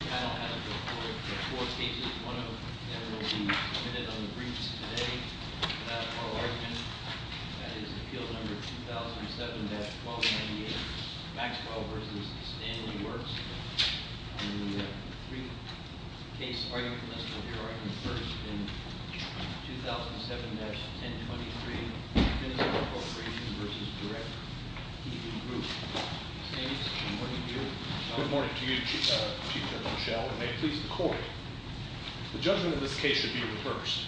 The panel has a total of four cases, one of them that will be submitted on the briefs today without a formal argument. That is Appeal No. 2007-1298, Maxwell v. Stanley Works. On the brief case argument, let's start with your argument first. In 2007-1023, Finisar Corporation v. DirecTV Group. Good morning to you, Chief Judge Rochelle, and may it please the court. The judgment of this case should be reversed.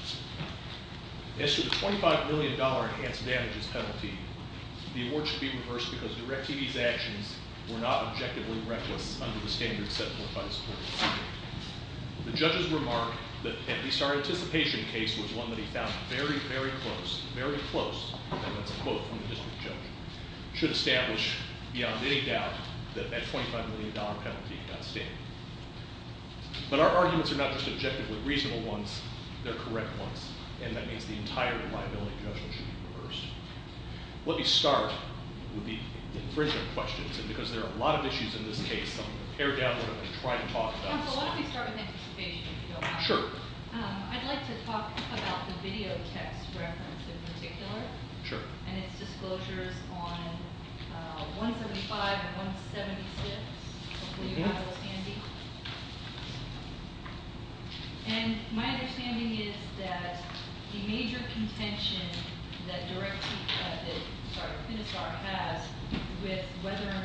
As to the $25 million enhanced damages penalty, the award should be reversed because DirecTV's actions were not objectively reckless under the standards set forth by this court. The judge's remark that Finisar Anticipation case was one that he found very, very close, very close, and that's a quote from the district judge, should establish beyond any doubt that that $25 million penalty got standing. But our arguments are not just objectively reasonable ones, they're correct ones, and that means the entire liability judgment should be reversed. Let me start with the infringement questions, and because there are a lot of issues in this case, I'm going to pare down a little bit and try to talk about some of them. Counsel, why don't we start with Anticipation, if you don't mind? Sure. I'd like to talk about the video text reference in particular. Sure. And its disclosures on 175 and 176. Hopefully you have those handy. And my understanding is that the major contention that Finisar has with whether or Is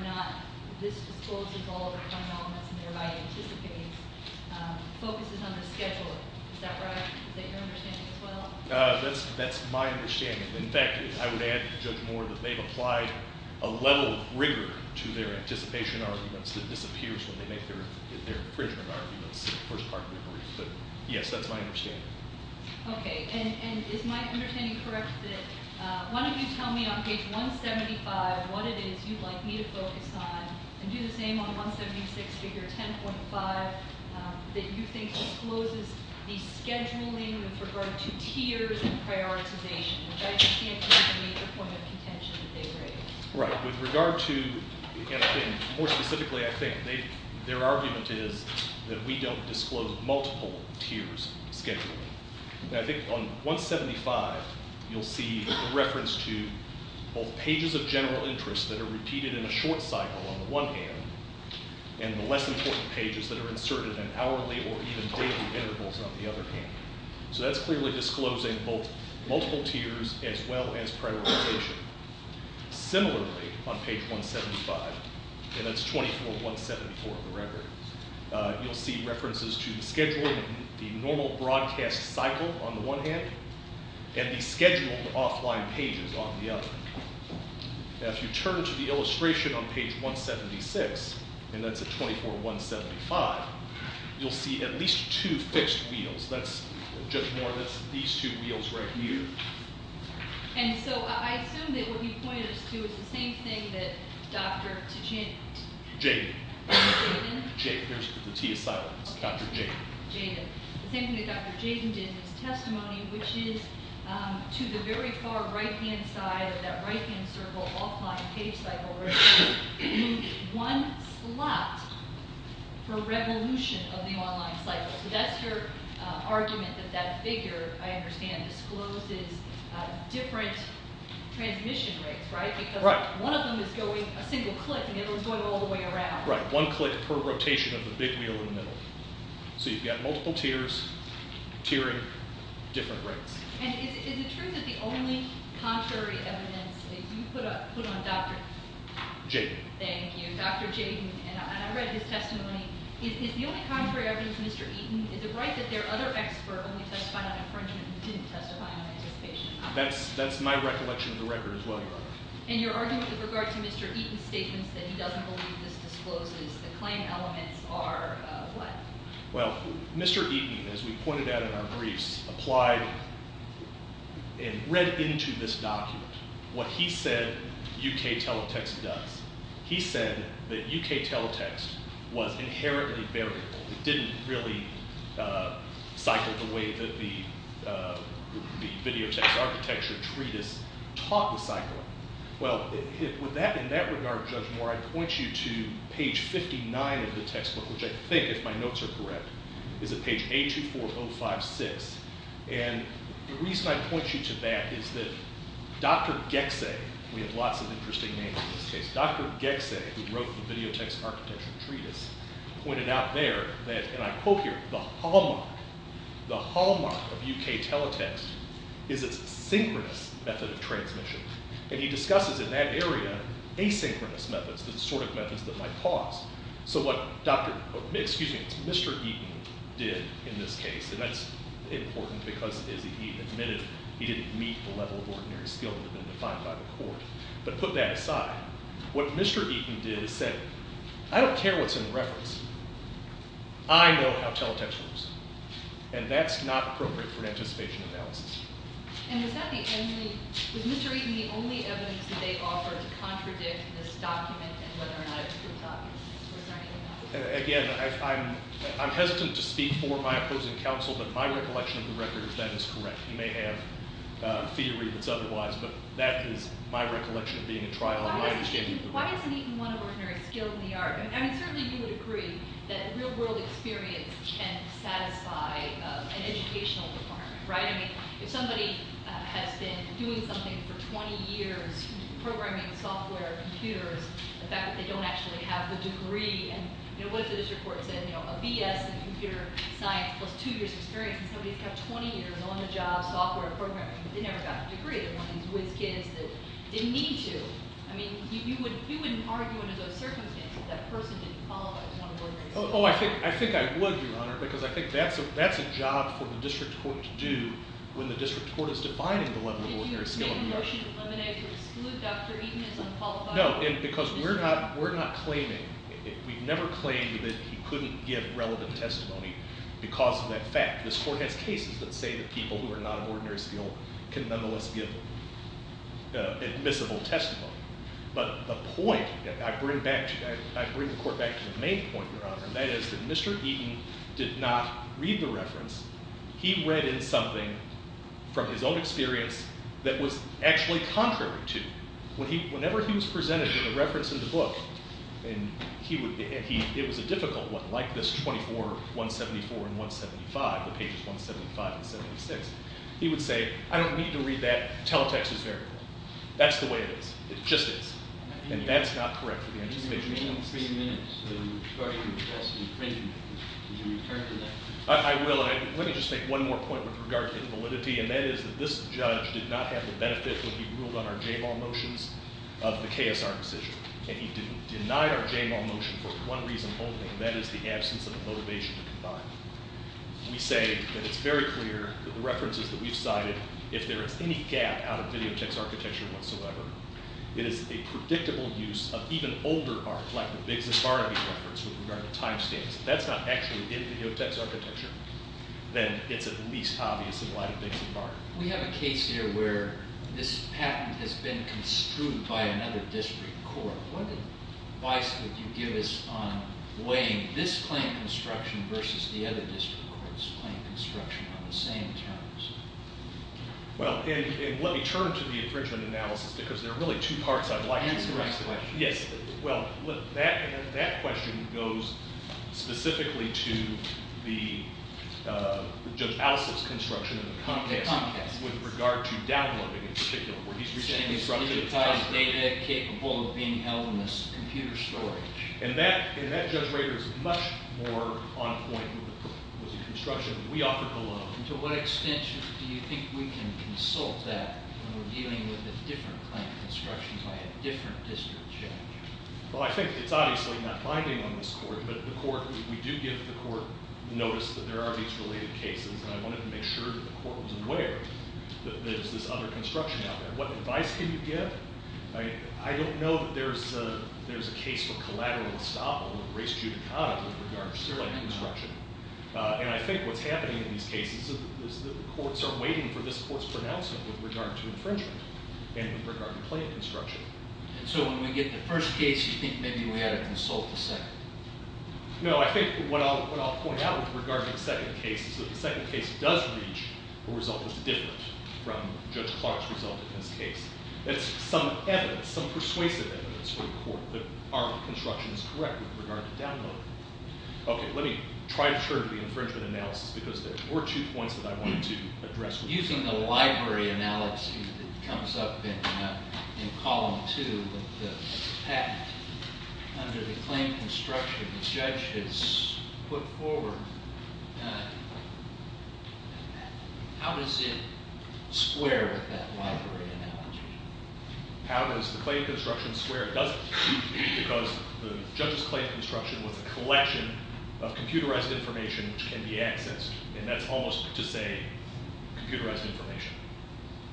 that right? Is that your understanding as well? That's my understanding. In fact, I would add to Judge Moore that they've applied a level of rigor to their anticipation arguments that disappears when they make their infringement arguments. But yes, that's my understanding. Okay. And is my understanding correct that one of you tell me on page 175 what it is you'd like me to focus on, and do the same on 176, figure 10.5, that you think discloses the scheduling with regard to tiers and prioritization, which I understand could be a point of contention that they raise. Right. With regard to, and I think, more specifically, I think, their argument is that we don't disclose multiple tiers of scheduling. And I think on 175, you'll see a reference to both pages of general interest that are repeated in a short cycle on the one hand, and the less important pages that are inserted in hourly or even daily intervals on the other hand. So that's clearly disclosing both multiple tiers as well as prioritization. Similarly, on page 175, and that's 24174 of the record, you'll see references to the schedule of the normal broadcast cycle on the one hand, and the scheduled offline pages on the other. Now, if you turn to the illustration on page 176, and that's at 24175, you'll see at least two fixed wheels. That's, Judge Moore, that's these two wheels right here. And so I assume that what he pointed us to is the same thing that Dr. Tuchin- Jaden. Jaden? There's the T asylum. It's Dr. Jaden. Jaden. The same thing that Dr. Jaden did in his testimony, which is to the very far right-hand side of that right-hand circle offline page cycle, there's one slot for revolution of the online cycle. So that's your argument that that figure, I understand, discloses different transmission rates, right? Right. Because one of them is going a single click, and the other one's going all the way around. Right. One click per rotation of the big wheel in the middle. So you've got multiple tiers, tiering different rates. And is it true that the only contrary evidence that you put on Dr.- Jaden. Thank you. Dr. Jaden. And I read his testimony. Is the only contrary evidence, Mr. Eaton, is it right that their other expert only testified on infringement and didn't testify on anticipation? That's my recollection of the record as well, Your Honor. And your argument with regard to Mr. Eaton's statements that he doesn't believe this discloses the claim elements are what? Well, Mr. Eaton, as we pointed out in our briefs, applied and read into this document what he said UK Teletext does. He said that UK Teletext was inherently variable. It didn't really cycle the way that the Videotext Architecture Treatise taught the cycle. Well, in that regard, Judge Moore, I point you to page 59 of the textbook, which I think, if my notes are correct, is at page 824-056. And the reason I point you to that is that Dr. Gekse, we have lots of interesting names in this case, Dr. Gekse, who wrote the Videotext Architecture Treatise, pointed out there that, and I quote here, the hallmark, the hallmark of UK Teletext is its synchronous method of transmission. And he discusses in that area asynchronous methods, the sort of methods that might cause. So what Mr. Eaton did in this case, and that's important because as he admitted, he didn't meet the level of ordinary skill that had been defined by the court. But put that aside, what Mr. Eaton did is said, I don't care what's in the reference. I know how Teletext works. And that's not appropriate for anticipation analysis. And was that the only, was Mr. Eaton the only evidence that they offered to contradict this document and whether or not it proves obvious, or was there anything else? Again, I'm hesitant to speak for my opposing counsel, but my recollection of the record, that is correct. You may have a theory that's otherwise, but that is my recollection of being in trial. Why isn't Eaton one of ordinary skill in the art? I mean, certainly you would agree that real world experience can satisfy an educational department, right? I mean, if somebody has been doing something for 20 years, programming software computers, the fact that they don't actually have the degree and, you know, what does the district court say? You know, a BS in computer science plus two years of experience, and somebody's got 20 years on the job, software programming, they never got a degree, they're one of these whiz kids that didn't need to. I mean, you wouldn't argue under those circumstances that that person didn't qualify as one of ordinary skill. Oh, I think I would, Your Honor, because I think that's a job for the district court to do when the district court is defining the level of ordinary skill in the art. Did you make a motion to eliminate or exclude Dr. Eaton as unqualified? No, because we're not claiming, we've never claimed that he couldn't give relevant testimony because of that fact. This court has cases that say that people who are not of ordinary skill can nonetheless give admissible testimony. But the point, I bring the court back to the main point, Your Honor, and that is that Mr. Eaton did not read the reference. He read in something from his own experience that was actually contrary to it. Whenever he was presented with a reference in the book, and it was a difficult one, like this 24, 174, and 175, the pages 175 and 76, he would say, I don't need to read that, teletext is variable. That's the way it is. It just is. And that's not correct for the anticipation. You have a minimum of three minutes to request an infringement. Would you return to that? I will, and let me just make one more point with regard to invalidity, and that is that this judge did not have the benefit when he ruled on our J-ball motions of the KSR decision. And he denied our J-ball motion for one reason only, and that is the absence of a motivation to deny it. We say that it's very clear that the references that we've cited, if there is any gap out of videotext architecture whatsoever, it is a predictable use of even older art, like the Biggs' Barnaby reference with regard to time stamps. If that's not actually in videotext architecture, then it's at least obvious in light of Biggs' Barnaby. We have a case here where this patent has been construed by another district court. What advice would you give us on weighing this claim construction versus the other district court's claim construction on the same terms? Well, and let me turn to the infringement analysis, because there are really two parts I'd like to address. Answer my question. Yes. Well, that question goes specifically to the judge Allison's construction of the complex. With regard to downloading, in particular, where he's recently constructed a time stamp. Capable of being held in this computer storage. And that, Judge Rader, is much more on point with the construction we offered below. And to what extent do you think we can consult that when we're dealing with a different claim construction by a different district judge? Well, I think it's obviously not binding on this court, but the court, we do give the court notice that there are these related cases, and I wanted to make sure that the court was aware that there's this other construction out there. What advice can you give? I don't know that there's a case for collateral estoppel or race judicata with regard to certain construction. And I think what's happening in these cases is that the courts are waiting for this court's pronouncement with regard to infringement and with regard to claim construction. And so when we get to the first case, you think maybe we ought to consult the second? No, I think what I'll point out with regard to the second case is that the second case does reach a result that's different from Judge Clark's result in this case. It's some evidence, some persuasive evidence for the court that our construction is correct with regard to download. Okay, let me try to turn to the infringement analysis because there were two points that I wanted to address. Using the library analysis that comes up in column two with the patent under the claim construction, which the judge has put forward, how does it square with that library analogy? How does the claim construction square? It doesn't because the judge's claim construction was a collection of computerized information which can be accessed, and that's almost to say computerized information,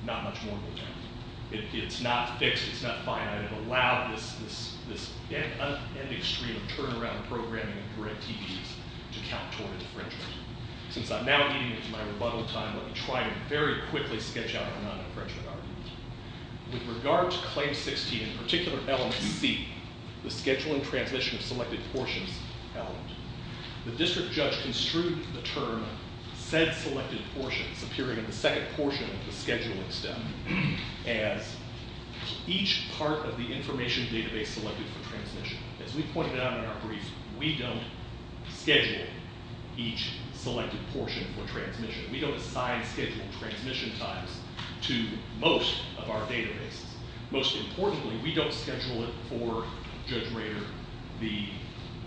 not much more than that. It's not fixed, it's not finite. I've allowed this end extreme turnaround programming for NTDs to count toward infringement. Since I'm now getting into my rebuttal time, let me try to very quickly sketch out the non-infringement argument. With regard to claim 16, in particular element C, the schedule and transmission of selected portions element, the district judge construed the term said selected portions appearing in the second portion of the scheduling step as each part of the information database selected for transmission. As we pointed out in our brief, we don't schedule each selected portion for transmission. We don't assign scheduled transmission times to most of our databases. Most importantly, we don't schedule it for Judge Rader, the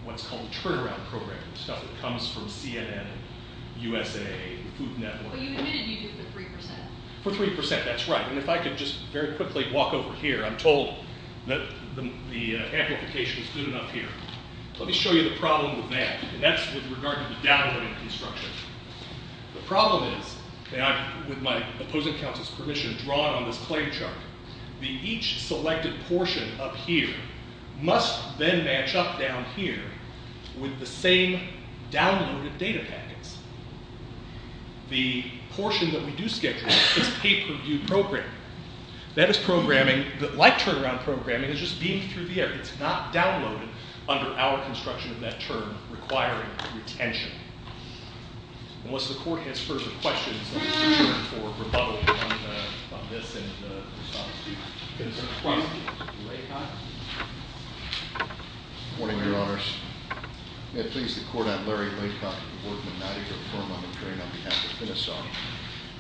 what's called turnaround programming, stuff that comes from CNN, USA, Food Network. But you admitted you did it for 3%. For 3%, that's right. If I could just very quickly walk over here, I'm told that the amplification is good enough here. Let me show you the problem with that. That's with regard to the downloading construction. The problem is, with my opposing counsel's permission, drawn on this claim chart, the each selected portion up here must then match up down here with the same downloaded data packets. The portion that we do schedule is pay-per-view programming. That is programming that, like turnaround programming, is just beamed through the air. It's not downloaded under our construction of that term requiring retention. Unless the Court has further questions, I'll turn for rebuttal on this and the response to... Good morning, Your Honors. May it please the Court, I'm Larry Laycott, with the Board of the Madigan Firm on the Claim on behalf of Minnesota.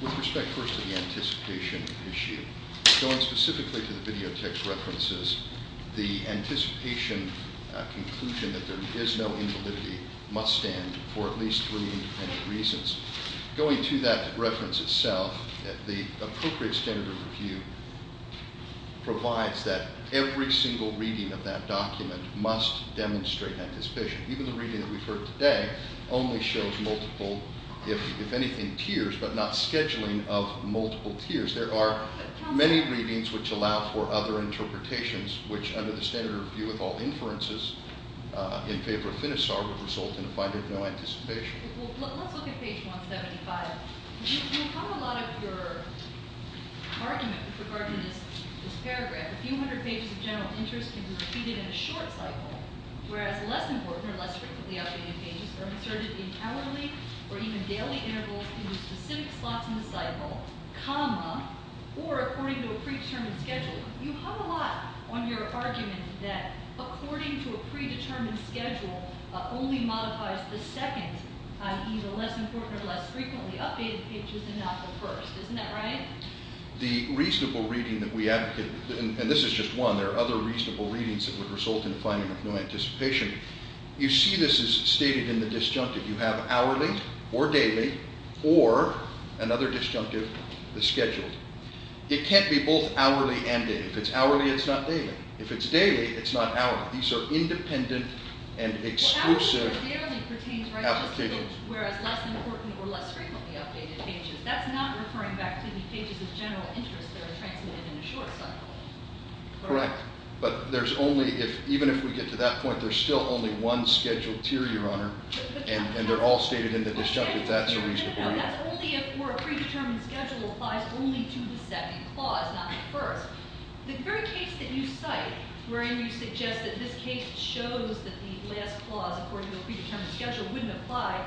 With respect, first, to the anticipation issue, going specifically to the video text references, the anticipation conclusion that there is no invalidity must stand for at least three independent reasons. Going to that reference itself, the appropriate standard review provides that every single reading of that document must demonstrate anticipation. Even the reading that we've heard today only shows multiple, if anything, tiers, but not scheduling of multiple tiers. There are many readings which allow for other interpretations which, under the standard review with all inferences, in favor of FINISAR, would result in a finding of no anticipation. Let's look at page 175. You have a lot of your argument regarding this paragraph. A few hundred pages of general interest can be repeated in a short cycle, whereas less important or less frequently updated pages are inserted in hourly or even daily intervals in specific slots in the cycle, or according to a predetermined schedule. You have a lot on your argument that according to a predetermined schedule only modifies the second, i.e. the less important or less frequently updated pages, and not the first. Isn't that right? The reasonable reading that we advocate, and this is just one, there are other reasonable readings that would result in a finding of no anticipation. You see this is stated in the disjunctive. You have hourly or daily or, another disjunctive, the scheduled. It can't be both hourly and daily. If it's hourly, it's not daily. If it's daily, it's not hourly. These are independent and exclusive applications. Well, hourly or daily pertains right to the schedule, whereas less important or less frequently updated pages. That's not referring back to the pages of general interest that are transmitted in a short cycle. Correct. But even if we get to that point, there's still only one scheduled tier, Your Honor, and they're all stated in the disjunctive. That's a reasonable reading. No, that's only if a predetermined schedule applies only to the second clause, not the first. The very case that you cite where you suggest that this case shows that the last clause according to a predetermined schedule wouldn't apply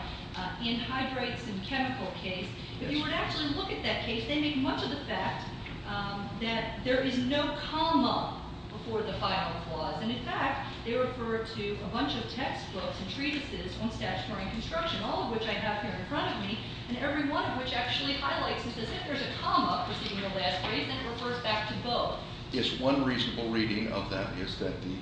in hydrates and chemical case, if you were to actually look at that case, they make much of the fact that there is no comma before the final clause. In fact, they refer to a bunch of textbooks and treatises on statutory construction, all of which I have here in front of me, and every one of which actually highlights as if there's a comma preceding the last phrase and it refers back to both. Yes, one reasonable reading of that is that the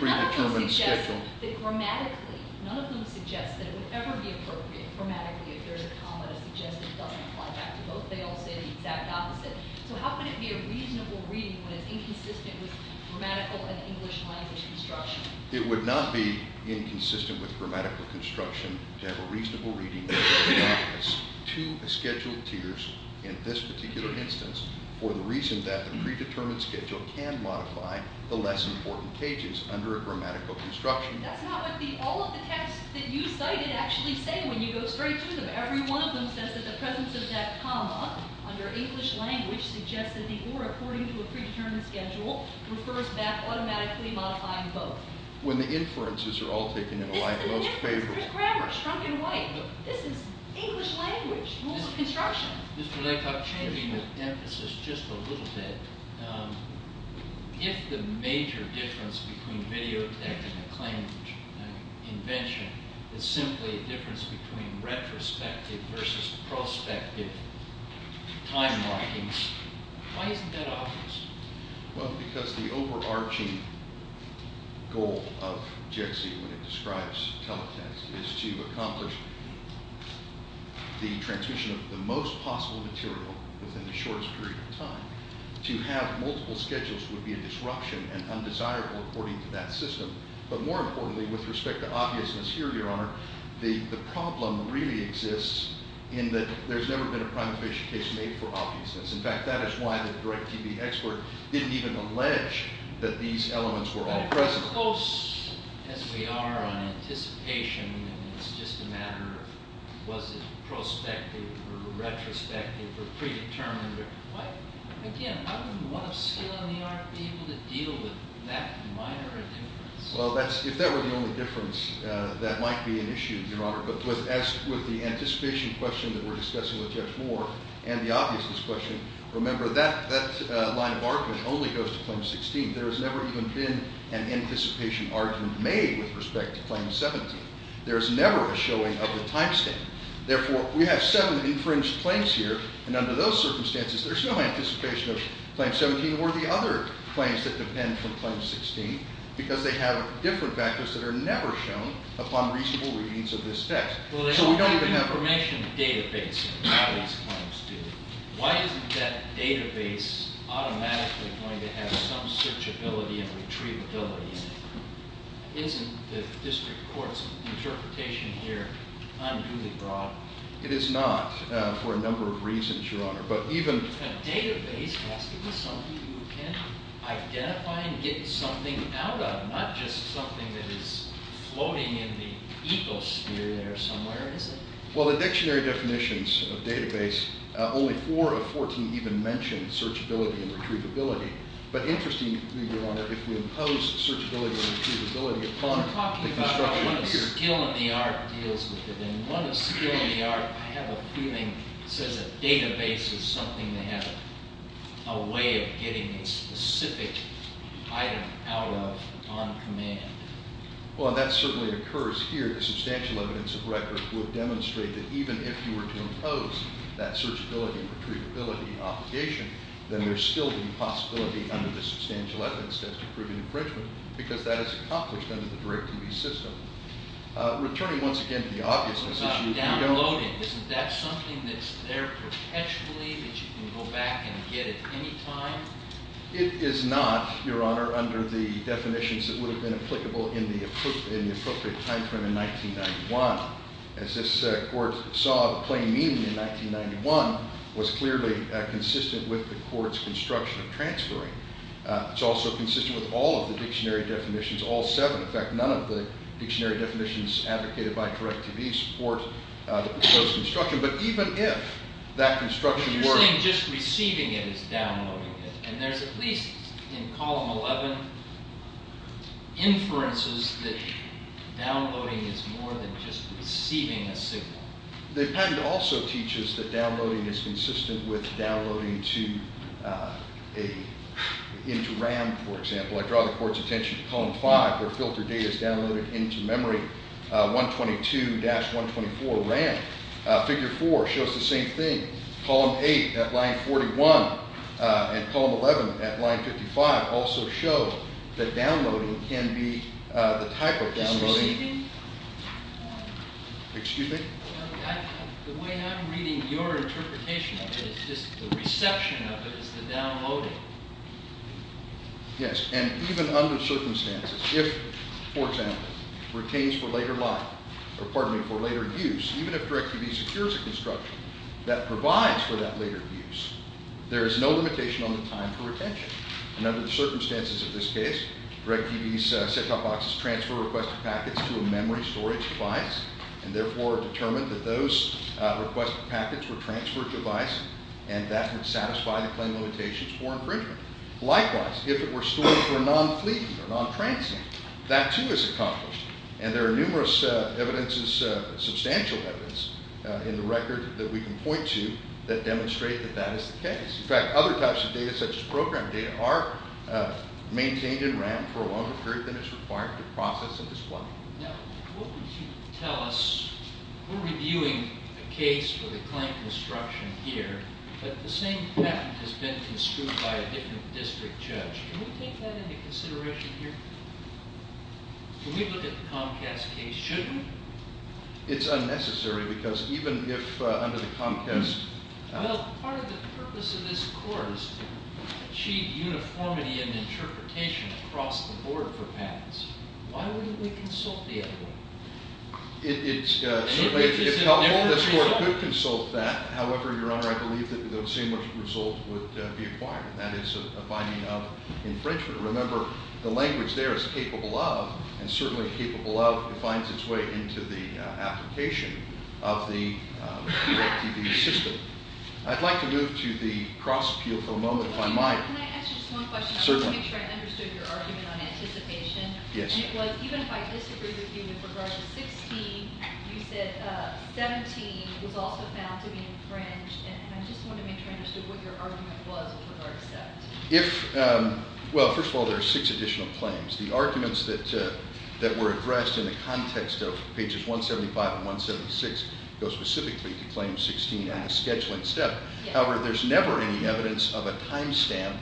predetermined schedule... No, none of them suggest that grammatically, none of them suggest that it would ever be appropriate grammatically if there's a comma to suggest it doesn't apply back to both. They all say the exact opposite. So how could it be a reasonable reading when it's inconsistent with grammatical and English language construction? It would not be inconsistent with grammatical construction to have a reasonable reading of two scheduled tiers in this particular instance for the reason that the predetermined schedule can modify the less important pages under a grammatical construction. That's not what all of the texts that you cited actually say when you go straight to them. Every one of them says that the presence of that comma under English language suggests that the or according to a predetermined schedule refers back automatically modifying both. When the inferences are all taken in a line most favorable. There's grammar strung in white. This is English language. Rules of construction. Just a little bit. If the major difference between videotech and acclaimed invention is simply a difference between retrospective versus prospective time markings why isn't that obvious? Well because the overarching goal of JXE when it describes teletext is to accomplish the transmission of the most possible material within the shortest period of time. To have multiple schedules would be a disruption and undesirable according to that system. But more importantly with respect to obviousness here your honor the problem really exists in that there's never been a prima facie case made for obviousness. In fact that is why the direct TB expert didn't even allege that these elements were all present. But as close as we are on anticipation and it's just a matter of was it prospective or retrospective or predetermined why again why wouldn't one of skill in the art be able to deal with that minor difference? Well if that were the only difference that might be an issue your honor but with the anticipation question that we're discussing with Judge Moore and the obviousness question remember that line of argument only goes to claim 16 there has never even been an anticipation argument made with respect to claim 17 there's never a showing of the time stamp therefore we have seven infringed claims here and under those circumstances there's no anticipation of claim 17 or the other claims that depend from claim 16 because they have different factors that are never shown upon reasonable readings of this text so we don't even have a... ...database why isn't that database automatically going to have some searchability and retrievability isn't the district court's interpretation here unduly broad? It is not for a number of reasons your honor but even a database has to be something you can identify and get something out of not just something that is floating in the ecosphere there somewhere is it? Well the dictionary definitions of database only 4 of 14 even mention searchability and retrievability but interestingly your honor if we impose searchability and retrievability upon the construction of the... I'm talking about what a skill in the art deals with it and what a skill in the art I have a feeling says a database is something that has a way of getting a specific item out of on command well that certainly occurs here the substantial evidence of record would demonstrate that even if you were to impose that searchability and retrievability obligation then there's still the possibility under the substantial evidence test to prove an infringement because that is accomplished under the direct TV system returning once again to the obviousness... I'm talking about downloading isn't that something that's there perpetually that you can go back and get at any time? It is not your honor under the definitions that would have been applicable in the appropriate time frame in 1991 as this court saw plain meaning in 1991 was clearly consistent with the courts construction of transferring it's also consistent with all of the dictionary definitions all 7 in fact none of the dictionary definitions advocated by direct TV support those construction but even if that construction were... You're saying just at least in column 11 inferences that downloading is more than just receiving a signal. The patent also teaches that downloading is consistent with downloading to into RAM for example I draw the courts attention to column 5 where filter data is downloaded into memory 122 dash 124 RAM figure 4 shows the same thing column 8 at line 41 and column 11 at line 55 also show that downloading can be the type of downloading excuse me the way I'm reading your interpretation of it is the reception of it is the downloading yes and even under circumstances if for example retains for later life or pardon me for later use even if direct TV secures a construction that provides for that later use there is no limitation on the time for retention and under the circumstances of this case direct TV's set-top boxes transfer requested packets to a memory storage device and therefore determined that those requested packets were transferred to device and that would satisfy the claim limitations for improvement likewise if it were stored for non-fleeting or non-transient that too is accomplished and there are numerous evidences substantial evidence in the record that we can point to that demonstrate that that is the case in fact other types of data such as program data are maintained in RAM for a longer period than is required to process and display now what would you tell us we're reviewing a case for the claim construction here but the same fact has been construed by a different district judge can we take that into consideration here can we look at the Comcast case shouldn't we it's unnecessary because even if under the Comcast well part of the purpose of this court is to achieve uniformity in interpretation across the board for packets why wouldn't we consult the other one it's if the whole of this court could consult that however your honor I believe that the same result would be required and that is a finding of infringement remember the language there is capable of and certainly capable of it finds its way into the application of the PLTV system I'd like to move to the cross appeal for a moment if I might can I ask you just one question I want to make sure I understood your argument on anticipation and it was even if I disagree with you with regard to 16 you said 17 was also found to be infringed and I just want to make sure I understood what your argument was with regard to 17 well first of all there are six additional claims the arguments that were addressed in the context of pages 175 and 176 go specifically to claim 16 and the scheduling step however there is never any evidence of a time stamp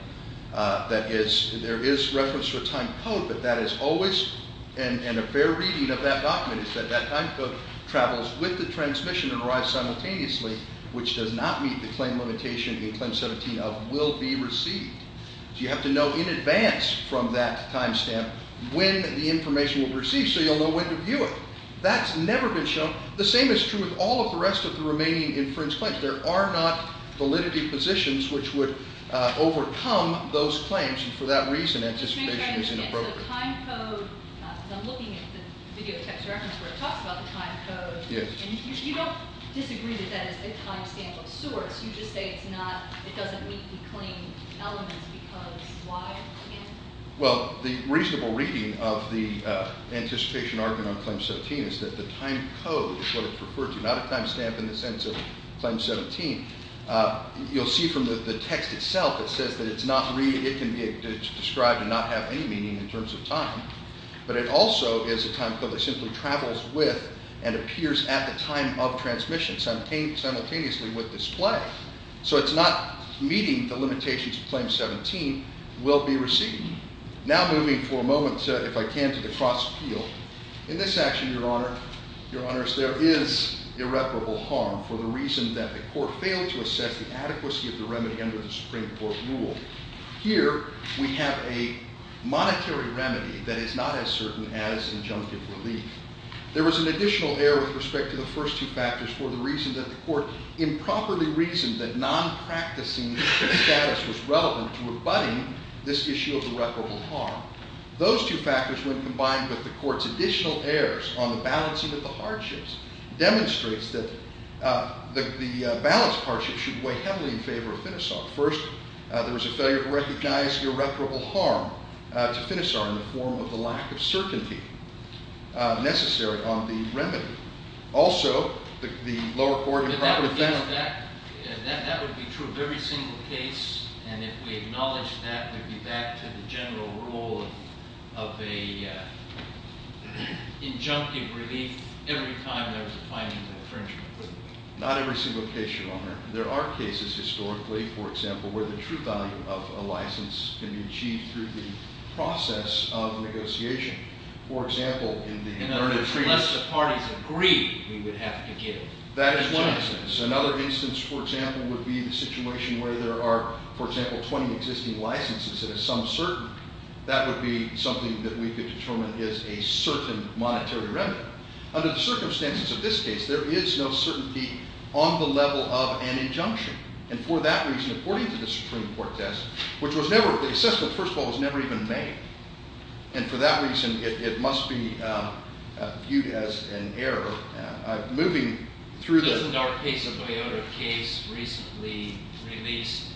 that is there is reference to a time code but that is always and a fair reading of that document is that that time code travels with the transmission and arrives simultaneously which does not meet the claim limitation in claim 17 of will be received so you have to know in advance from that time stamp when the information will be received so you'll know when to view it that's never been shown the same is true with all of the rest of the remaining infringed claims there are not validity positions which would overcome those claims and for that reason anticipation isn't appropriate I'm looking at the video text reference where it talks about the time code and you don't disagree that that is a time stamp of sorts you just say it's not it doesn't meet the claim elements because why well the reasonable reading of the anticipation argument on claim 17 is that the time code is what it's referred to not a time stamp in the sense of claim 17 you'll see from the text itself it says that it's not it can be described and not have any meaning in terms of time but it also is a time code that simply travels with and appears at the time of transmission simultaneously with display so it's not meeting the limitations of claim 17 will be received now moving for a moment if I can to the cross appeal in this action your honor your honors there is irreparable harm for the reason that the court failed to assess the adequacy of the remedy under the supreme court rule here we have a monetary remedy that is not as certain as injunctive relief there was an additional error with respect to the first two factors for the reason that the court improperly reasoned that non-practicing status was relevant to abutting this issue of irreparable harm those two factors when combined with the courts additional errors on the balancing of the hardships demonstrates that the balance of hardship should weigh heavily in favor of Finisar first there was a failure to recognize irreparable harm to Finisar in the form of the lack of certainty necessary on the remedy also the lower court improperly found that would be true of every single case and if we acknowledge that it would be back to the general rule of a injunctive relief every time there was a finding of infringement not every single case your honor there are cases historically for example where the true value of a license can be achieved through the process of negotiation for example in the parties agree that is one instance another instance for example would be the situation where there are for example 20 existing licenses that are some certain that would be something that we could determine is a certain monetary remedy under the circumstances of this case there is no certainty on the level of an injunction and for that reason according to the Supreme Court test which was never first of all was never even made and for that reason it must be viewed as an error moving through the case of case recently released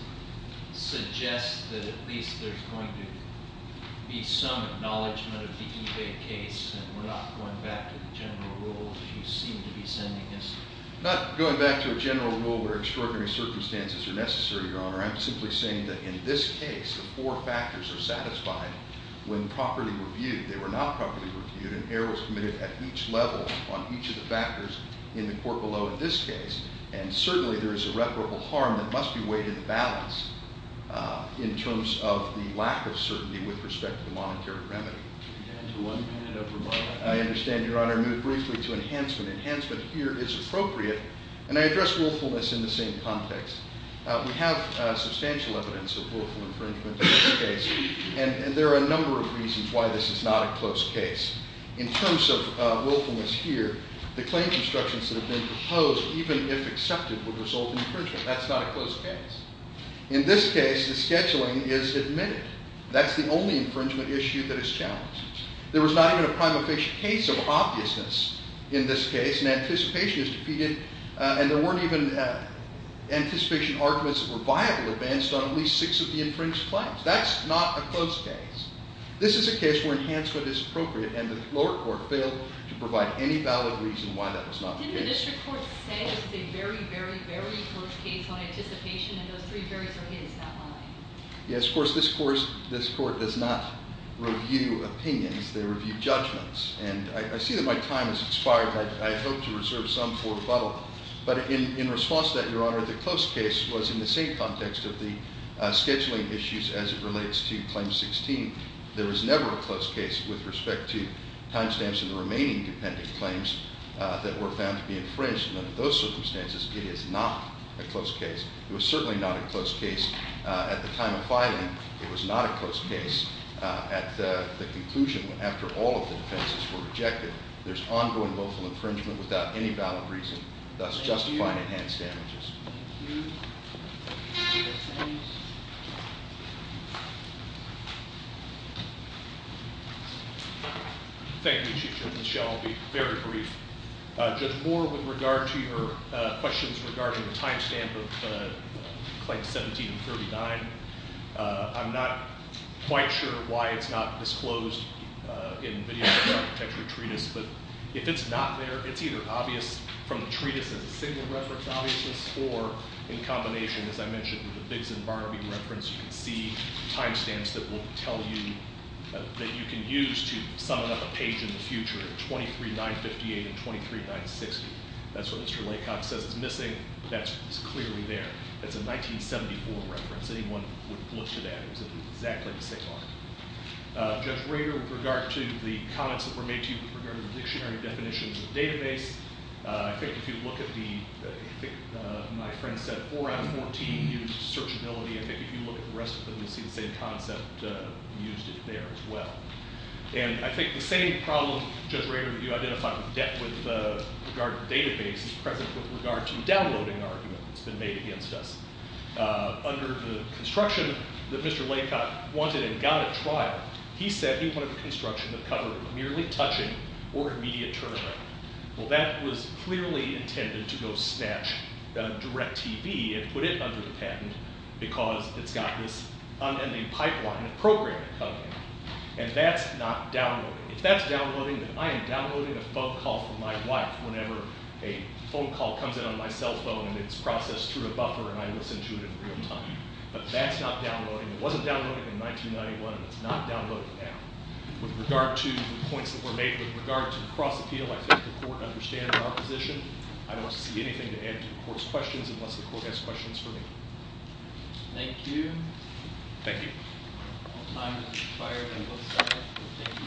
suggests that at least there's going to be some acknowledgement of the ebay case and we're not going back to the general rule you seem to be sending us not going back to a general rule where extraordinary circumstances are necessary your honor I'm simply saying that in this case the four factors are satisfied when properly reviewed they were not properly reviewed and errors committed at each level on each of the factors in the court below in this case and certainly there is irreparable harm that must be weighed in the balance in terms of the lack of certainty with respect to the monetary remedy I understand your honor move briefly to enhancement enhancement here is appropriate and I address willfulness in the same context we have substantial evidence of willful infringement in this case and there are a number of reasons why this is not a close case in terms of willfulness here the claims instructions that have been proposed even if accepted would result in infringement that's not a close case in this case the scheduling is admitted that's the only infringement issue that is challenged there was not even a prime efficient case of obviousness in this case and anticipation is defeated and there weren't even anticipation arguments that were viable advanced on at least six of the infringed claims that's not a close case this is a case where enhancement is appropriate and the lower court failed to provide any valid reason why that was not the case didn't the district court say it was a very very very close case on anticipation and those three barriers are hit it's not my line yes of course this court does not review opinions they review judgments and I see that my time has expired I hope to reserve some for rebuttal but in response to that your honor the close case was in the same context of the scheduling issues as it relates to claim 16 there was never a close case with respect to time stamps in the remaining dependent claims that were found to be infringed and under those circumstances it is not a close case it was certainly not a close case at the time of filing it was not a close case at the conclusion after all of the defenses were rejected there's ongoing willful infringement without any valid reason thus justifying enhanced damages Thank you Chief Judge I'll be very brief Judge Moore with regard to your questions regarding the time stamp of claims 17 and 39 I'm not quite sure why it's not disclosed in video architecture treatise but if it's not there it's either obvious from the treatise as a single reference of obviousness or in combination as I mentioned with the Biggs and Barnaby reference you can see time stamps that will tell you that you can use to summon up a page in the future 23958 and 23960 that's what Mr. Laycock says is missing that's clearly there it's a 1974 reference anyone would look to that it's exactly the same line. Judge Rader with regard to the comments that were made to you regarding the dictionary definitions of database I think if you look at the I think my friend said 4 out of 14 used searchability I think if you look at the rest of them you'll see the same concept used there as well and I think the same problem Judge Rader you identified with regard to database is present with regard to downloading argument that's been made against us under the construction that Mr. Laycock wanted and got at trial he said he wanted the or immediate turnaround well that was clearly intended to go snatch DirecTV and put it under the patent because it's got this pipeline of programming coming and that's not downloading if that's downloading then I am downloading a phone call from my wife whenever a phone call comes in on my cell phone and it's processed through a buffer and I listen to it in real time but that's not downloading it wasn't downloading in 1991 and it's not downloading now with regard to the points that were made with regard to cross appeal I think the court understands our position I don't see anything to add to the court's questions unless the court has questions for me Thank you Thank you